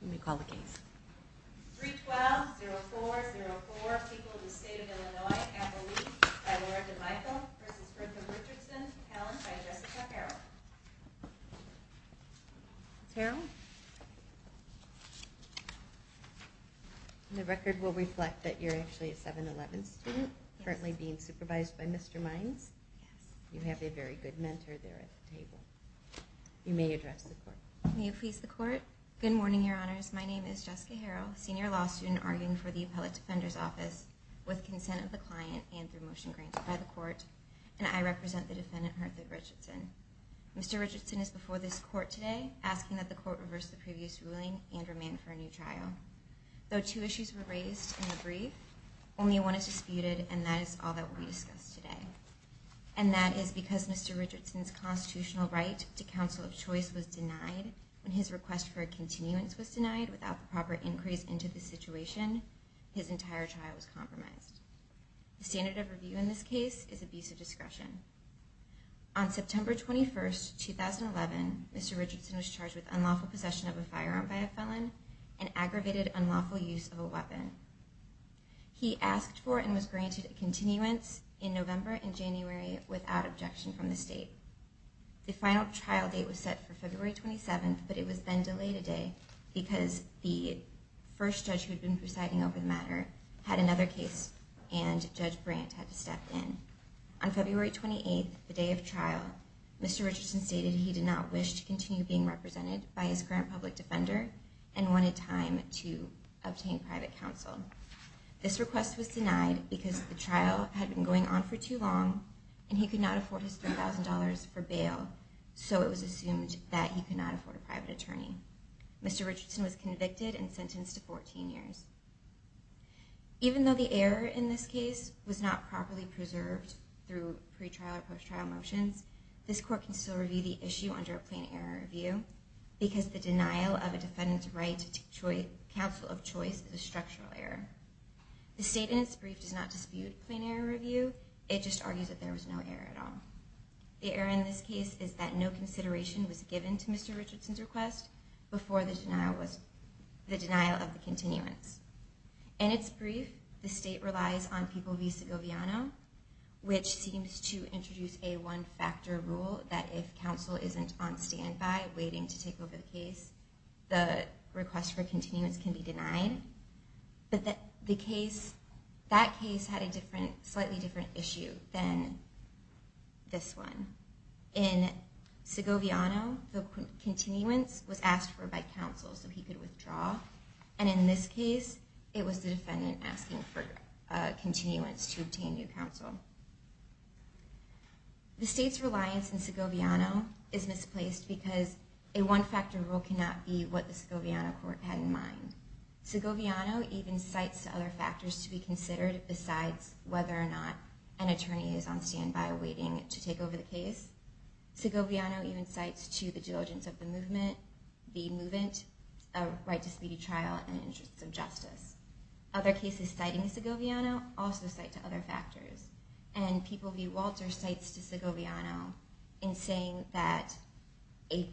Let me call the case. 3-12-04-04, people of the state of Illinois, Appalooke, by Laura DeMichael v. Bertha Richardson, Helen by Jessica Harrell. Ms. Harrell? The record will reflect that you're actually a 7-11 student, currently being supervised by Mr. Mines. Yes. You have a very good mentor there at the table. You may address the court. May it please the court? Good morning, your honors. My name is Jessica Harrell, senior law student arguing for the Appellate Defender's Office with consent of the client and through motion granted by the court, and I represent the defendant, Bertha Richardson. Mr. Richardson is before this court today, asking that the court reverse the previous ruling and remand for a new trial. Though two issues were raised in the brief, only one is disputed, and that is all that will be discussed today. And that is because Mr. Richardson's constitutional right to counsel of choice was denied when his request for a continuance was denied without the proper increase into the situation, his entire trial was compromised. The standard of review in this case is abuse of discretion. On September 21, 2011, Mr. Richardson was charged with unlawful possession of a firearm by a felon and aggravated unlawful use of a weapon. He asked for and was granted a continuance in November and January without objection from the state. The final trial date was set for February 27, but it was then delayed a day because the first judge who had been presiding over the matter had another case and Judge Brandt had to step in. On February 28, the day of trial, Mr. Richardson stated he did not wish to continue being represented by his current public defender and wanted time to obtain private counsel. This request was denied because the trial had been going on for too long and he could not afford his $3,000 for bail, so it was assumed that he could not afford a private attorney. Mr. Richardson was convicted and sentenced to 14 years. Even though the error in this case was not properly preserved through pre-trial or post-trial motions, this court can still review the issue under a plain error review because the denial of a defendant's right to counsel of choice is a structural error. The state in its brief does not dispute plain error review, it just argues that there was no error at all. The error in this case is that no consideration was given to Mr. Richardson's request before the denial of the continuance. In its brief, the state relies on People v. Segoviano, which seems to introduce a one-factor rule that if counsel isn't on standby waiting to take over the case, the request for continuance can be denied. But that case had a slightly different issue than this one. In Segoviano, the continuance was asked for by counsel so he could withdraw, and in this case, it was the defendant asking for continuance to obtain new counsel. The state's reliance on Segoviano is misplaced because a one-factor rule cannot be what the Segoviano court had in mind. Segoviano even cites other factors to be considered besides whether or not an attorney is on standby waiting to take over the case. Segoviano even cites to the diligence of the movement, the movement, a right to speedy trial and interests of justice. Other cases citing Segoviano also cite to other factors. And People v. Walter cites to Segoviano in saying that a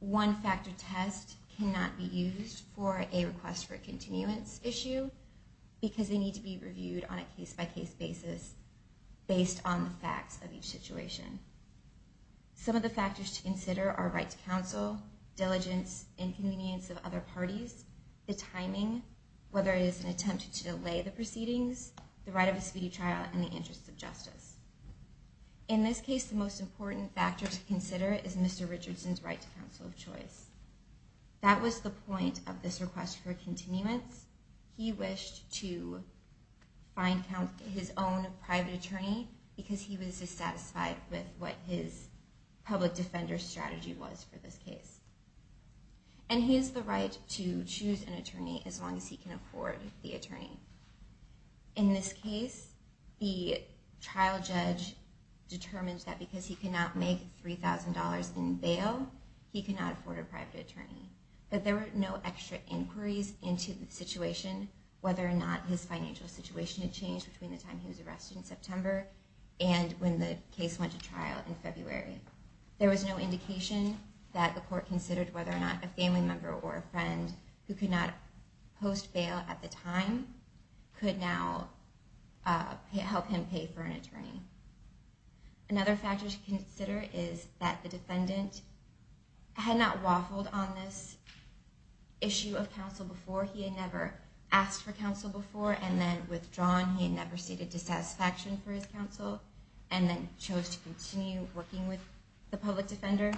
one-factor test cannot be used for a request for continuance issue because they need to be reviewed on a case-by-case basis based on the facts of each situation. Some of the factors to consider are right to counsel, diligence, inconvenience of other parties, the timing, whether it is an attempt to delay the proceedings, the right of a speedy trial and the interests of justice. In this case, the most important factor to consider is Mr. Richardson's right to counsel of choice. That was the point of this request for continuance. He wished to find his own private attorney because he was dissatisfied with what his public defender strategy was for this case. And he has the right to choose an attorney as long as he can afford the attorney. In this case, the trial judge determined that because he cannot make $3,000 in bail, he cannot afford a private attorney. But there were no extra inquiries into the situation, whether or not his financial situation had changed between the time he was arrested in September and when the case went to trial in February. There was no indication that the court considered whether or not a family member or a friend who could not post bail at the time could now help him pay for an attorney. Another factor to consider is that the defendant had not waffled on this issue of counsel before. He had never asked for counsel before and then withdrawn. He had never stated dissatisfaction for his counsel and then chose to continue working with the public defender.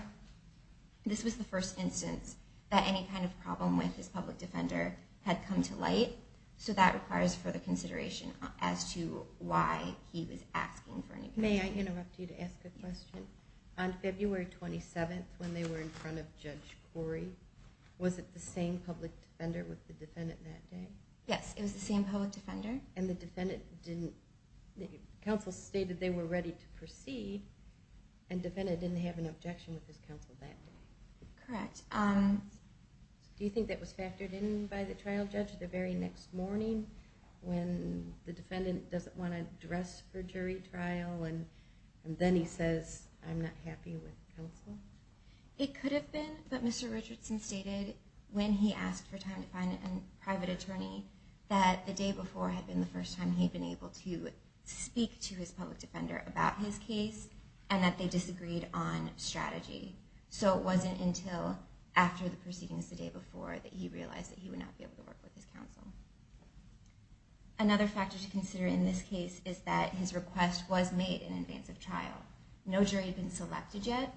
This was the first instance that any kind of problem with his public defender had come to light. So that requires further consideration as to why he was asking for any counsel. May I interrupt you to ask a question? On February 27th, when they were in front of Judge Corey, was it the same public defender with the defendant that day? Yes, it was the same public defender. And the counsel stated they were ready to proceed, and the defendant didn't have an objection with his counsel that day? Correct. Do you think that was factored in by the trial judge the very next morning when the defendant doesn't want to address for jury trial and then he says, I'm not happy with counsel? It could have been, but Mr. Richardson stated when he asked for time to find a private attorney that the day before had been the first time he had been able to speak to his public defender about his case and that they disagreed on strategy. So it wasn't until after the proceedings the day before that he realized that he would not be able to work with his counsel. Another factor to consider in this case is that his request was made in advance of trial. No jury had been selected yet,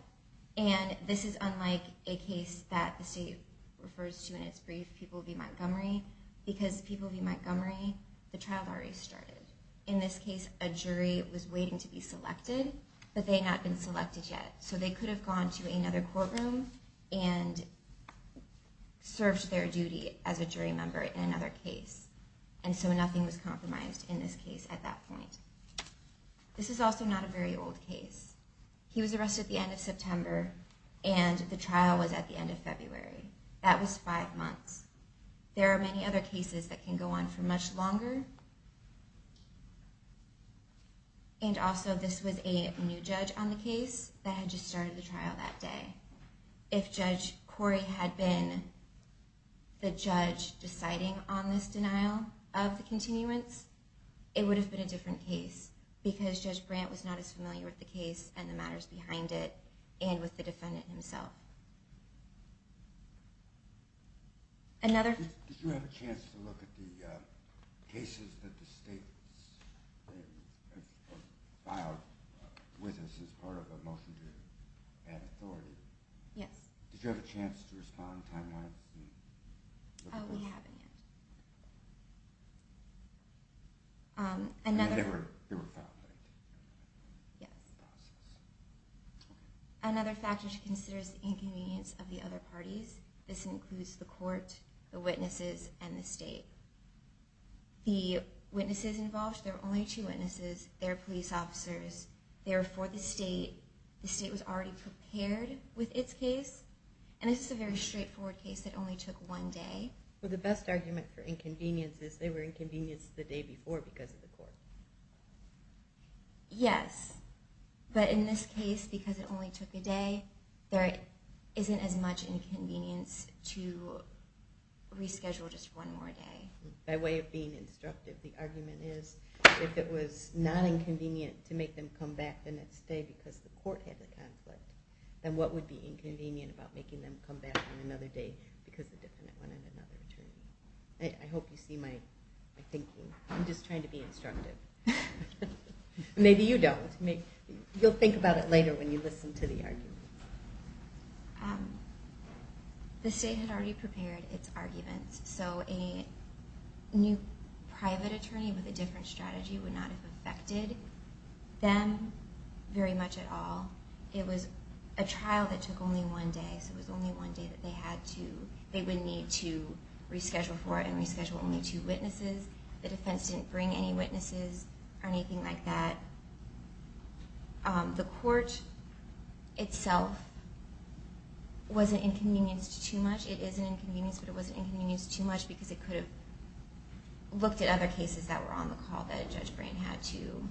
and this is unlike a case that the state refers to in its brief, People v. Montgomery, because People v. Montgomery, the trial had already started. In this case, a jury was waiting to be selected, but they had not been selected yet. So they could have gone to another courtroom and served their duty as a jury member in another case. And so nothing was compromised in this case at that point. This is also not a very old case. He was arrested at the end of September, and the trial was at the end of February. That was five months. There are many other cases that can go on for much longer. And also, this was a new judge on the case that had just started the trial that day. If Judge Corey had been the judge deciding on this denial of the continuance, it would have been a different case, because Judge Brandt was not as familiar with the case and the matters behind it, and with the defendant himself. Did you have a chance to look at the cases that the state has filed with us as part of a motion to add authority? Yes. Did you have a chance to respond to timelines? Oh, we haven't yet. They were filed late? Yes. Another factor to consider is the inconvenience of the other parties. This includes the court, the witnesses, and the state. The witnesses involved, there were only two witnesses. They were police officers. Therefore, the state was already prepared with its case. And this is a very straightforward case that only took one day. But the best argument for inconvenience is they were inconvenienced the day before because of the court. Yes. But in this case, because it only took a day, there isn't as much inconvenience to reschedule just one more day. By way of being instructive, the argument is if it was not inconvenient to make them come back the next day because the court had a conflict, then what would be inconvenient about making them come back on another day because the defendant wanted another attorney? I hope you see my thinking. I'm just trying to be instructive. Maybe you don't. You'll think about it later when you listen to the argument. The state had already prepared its arguments, so a new private attorney with a different strategy would not have affected them very much at all. It was a trial that took only one day, so it was only one day that they would need to reschedule for it and reschedule only two witnesses. The defense didn't bring any witnesses or anything like that. The court itself wasn't inconvenienced too much. It is an inconvenience, but it wasn't inconvenienced too much because it could have looked at other cases that were on the call that Judge Brain had to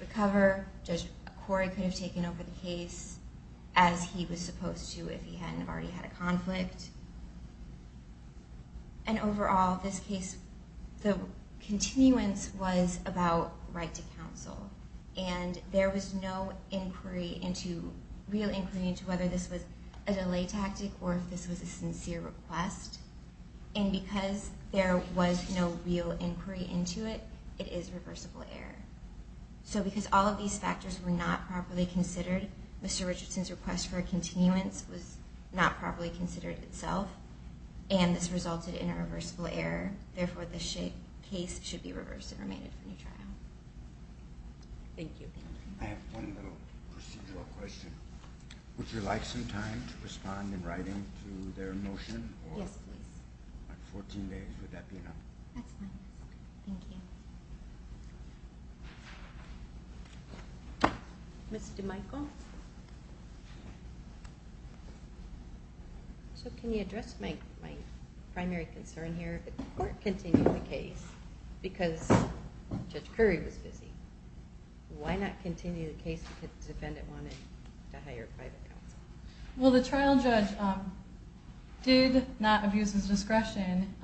recover. Judge Corey could have taken over the case as he was supposed to if he hadn't already had a conflict. Overall, in this case, the continuance was about right to counsel. There was no real inquiry into whether this was a delay tactic or if this was a sincere request. Because there was no real inquiry into it, it is reversible error. So because all of these factors were not properly considered, Mr. Richardson's request for a continuance was not properly considered itself, and this resulted in a reversible error, therefore this case should be reversed and remanded for new trial. Thank you. I have one little procedural question. Would you like some time to respond in writing to their motion? Yes, please. 14 days, would that be enough? That's fine. Thank you. Ms. DeMichel? So can you address my primary concern here? If the court continued the case because Judge Corey was busy, why not continue the case because the defendant wanted to hire private counsel? Well, the trial judge did not abuse his discretion.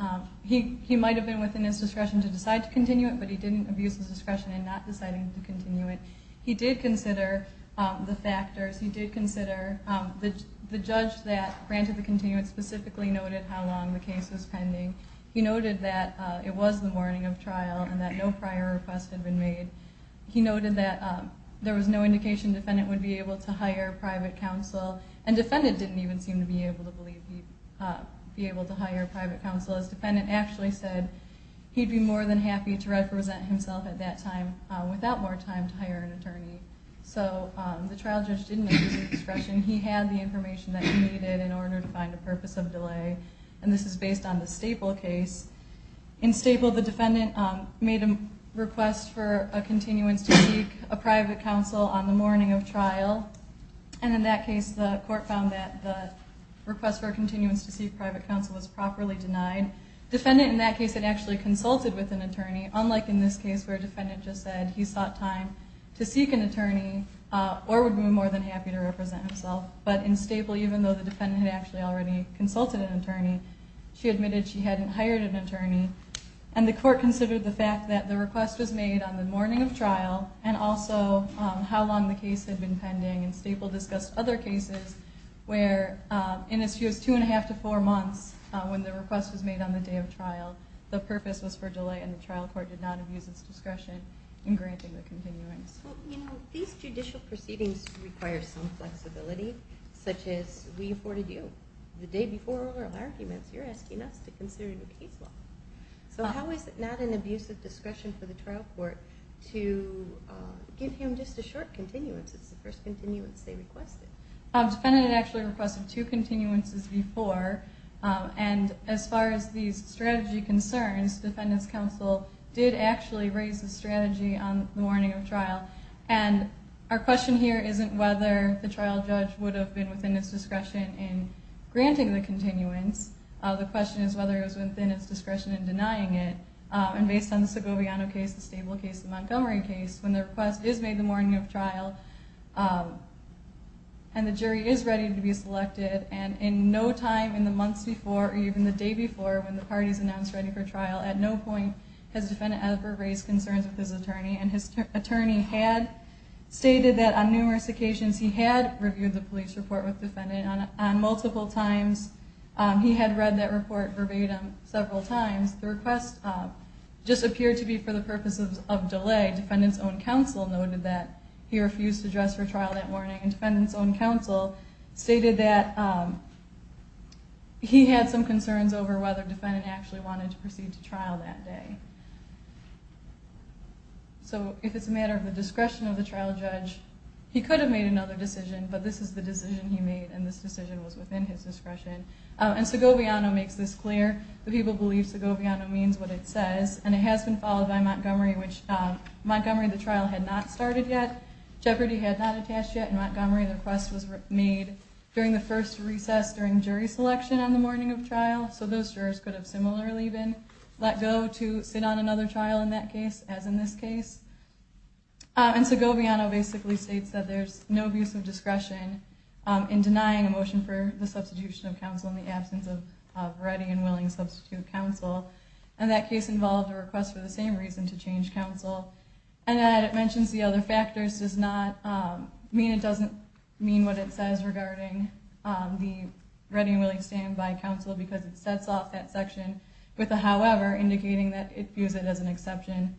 He might have been within his discretion to decide to continue it, but he didn't abuse his discretion in not deciding to continue it. He did consider the factors. He did consider the judge that granted the continuance specifically noted how long the case was pending. He noted that it was the morning of trial and that no prior request had been made. He noted that there was no indication the defendant would be able to hire private counsel, and the defendant didn't even seem to be able to believe he'd be able to hire private counsel. His defendant actually said he'd be more than happy to represent himself at that time without more time to hire an attorney. So the trial judge didn't abuse his discretion. He had the information that he needed in order to find a purpose of delay, and this is based on the Staple case. In Staple, the defendant made a request for a continuance to seek a private counsel on the morning of trial, and in that case the court found that the request for a continuance to seek private counsel was properly denied. The defendant in that case had actually consulted with an attorney, unlike in this case where the defendant just said he sought time to seek an attorney or would be more than happy to represent himself. But in Staple, even though the defendant had actually already consulted an attorney, she admitted she hadn't hired an attorney. And the court considered the fact that the request was made on the morning of trial, and also how long the case had been pending. And Staple discussed other cases where in as few as two and a half to four months, when the request was made on the day of trial, the purpose was for delay and the trial court did not abuse its discretion in granting the continuance. Well, you know, these judicial proceedings require some flexibility, such as we afforded you. The day before oral arguments, you're asking us to consider a new case law. So how is it not an abuse of discretion for the trial court to give him just a short continuance? It's the first continuance they requested. The defendant had actually requested two continuances before, and as far as these strategy concerns, the defendant's counsel did actually raise the strategy on the morning of trial. And our question here isn't whether the trial judge would have been within its discretion in granting the continuance. The question is whether it was within its discretion in denying it. And based on the Segoviano case, the Staple case, the Montgomery case, when the request is made the morning of trial, and the jury is ready to be selected, and in no time in the months before, or even the day before, when the party is announced ready for trial, at no point has the defendant ever raised concerns with his attorney. And his attorney had stated that on numerous occasions he had reviewed the police report with the defendant. On multiple times, he had read that report verbatim several times. The request just appeared to be for the purpose of delay. Defendant's own counsel noted that he refused to dress for trial that morning. And defendant's own counsel stated that he had some concerns over whether the defendant actually wanted to proceed to trial that day. So, if it's a matter of the discretion of the trial judge, he could have made another decision, but this is the decision he made, and this decision was within his discretion. And Segoviano makes this clear. The people believe Segoviano means what it says, and it has been followed by Montgomery, which Montgomery, the trial had not started yet. Jeopardy had not attached yet, and Montgomery, the request was made during the first recess during jury selection on the morning of trial. So those jurors could have similarly been let go to sit on another trial in that case, as in this case. And Segoviano basically states that there's no abuse of discretion in denying a motion for the substitution of counsel in the absence of ready and willing substitute counsel. And that case involved a request for the same reason to change counsel. And that it mentions the other factors does not mean it doesn't mean what it says regarding the ready and willing standby counsel, because it sets off that section with a however indicating that it views it as an exception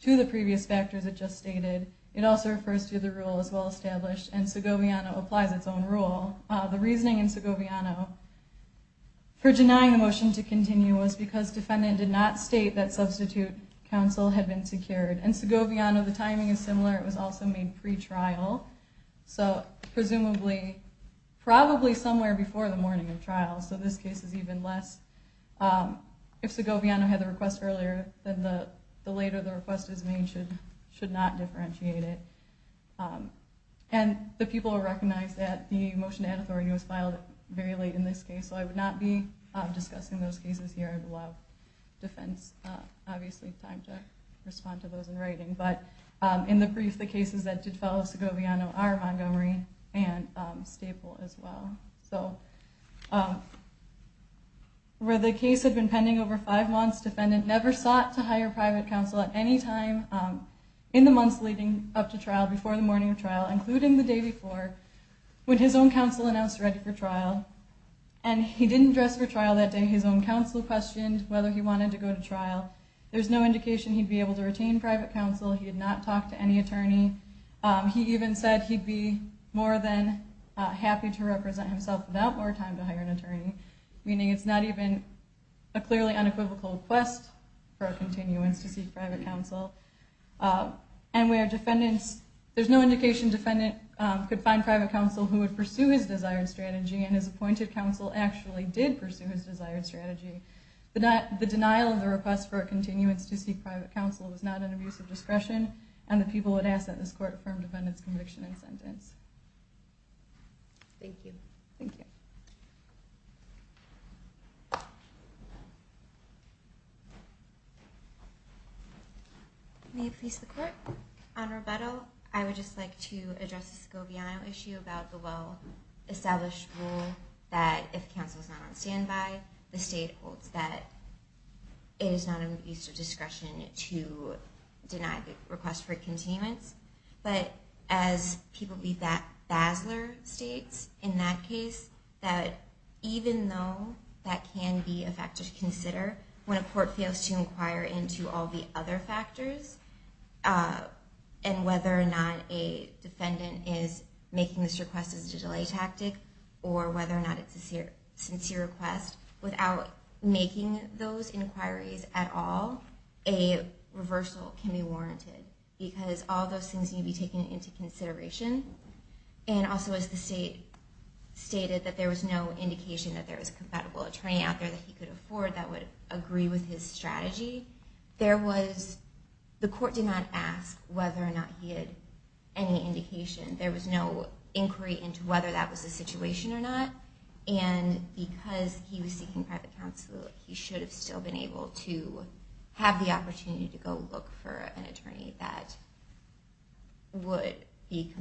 to the previous factors it just stated. It also refers to the rule as well established, and Segoviano applies its own rule. The reasoning in Segoviano for denying the motion to continue was because defendant did not state that substitute counsel had been secured. In Segoviano, the timing is similar, it was also made pre-trial. So presumably, probably somewhere before the morning of trial, so this case is even less. If Segoviano had the request earlier, then the later the request is made should not differentiate it. And the people will recognize that the motion to add authority was filed very late in this case, so I would not be discussing those cases here. Defense, obviously time to respond to those in writing. But in the brief, the cases that did follow Segoviano are Montgomery and Staple as well. So where the case had been pending over five months, defendant never sought to hire private counsel at any time in the months leading up to trial, before the morning of trial, including the day before, when his own counsel announced ready for trial. And he didn't dress for trial that day, his own counsel questioned whether he wanted to go to trial. There's no indication he'd be able to retain private counsel, he had not talked to any attorney. He even said he'd be more than happy to represent himself without more time to hire an attorney, meaning it's not even a clearly unequivocal request for a continuance to seek private counsel. And there's no indication defendant could find private counsel who would pursue his desired strategy, and his appointed counsel actually did pursue his desired strategy. The denial of the request for a continuance to seek private counsel was not an abuse of discretion, and the people would ask that this court affirm defendant's conviction and sentence. Thank you. Thank you. May it please the court. On Roberto, I would just like to address the Scobiano issue about the well-established rule that if counsel is not on standby, the state holds that it is not an abuse of discretion to deny the request for a continuance. But as people believe that Basler states, in that case, that even though that can be a factor to consider, when a court fails to inquire into all the other factors, and whether or not a defendant is making this request as a delay tactic, or whether or not it's a sincere request, without making those inquiries at all, a reversal can be warranted, because all those things need to be taken into consideration. And also, as the state stated, that there was no indication that there was a compatible attorney out there that he could afford that would agree with his strategy. The court did not ask whether or not he had any indication. There was no inquiry into whether that was the situation or not. And because he was seeking private counsel, he should have still been able to have the opportunity to go look for an attorney that would be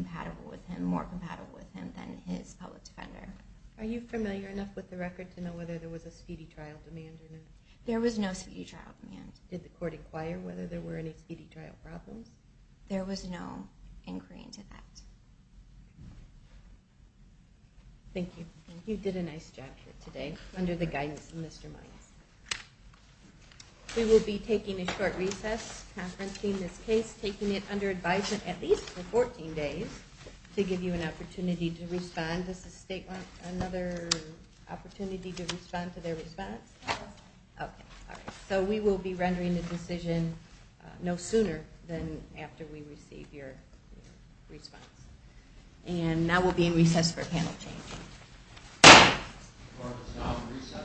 more compatible with him than his public defender. Are you familiar enough with the record to know whether there was a speedy trial demand or not? There was no speedy trial demand. Did the court inquire whether there were any speedy trial problems? There was no inquiry into that. Thank you. You did a nice job here today, under the guidance of Mr. Miles. We will be taking a short recess, confronting this case, taking it under advisement at least for 14 days, to give you an opportunity to respond. Does the state want another opportunity to respond to their response? So we will be rendering the decision no sooner than after we receive your response. And now we'll be in recess for a panel change.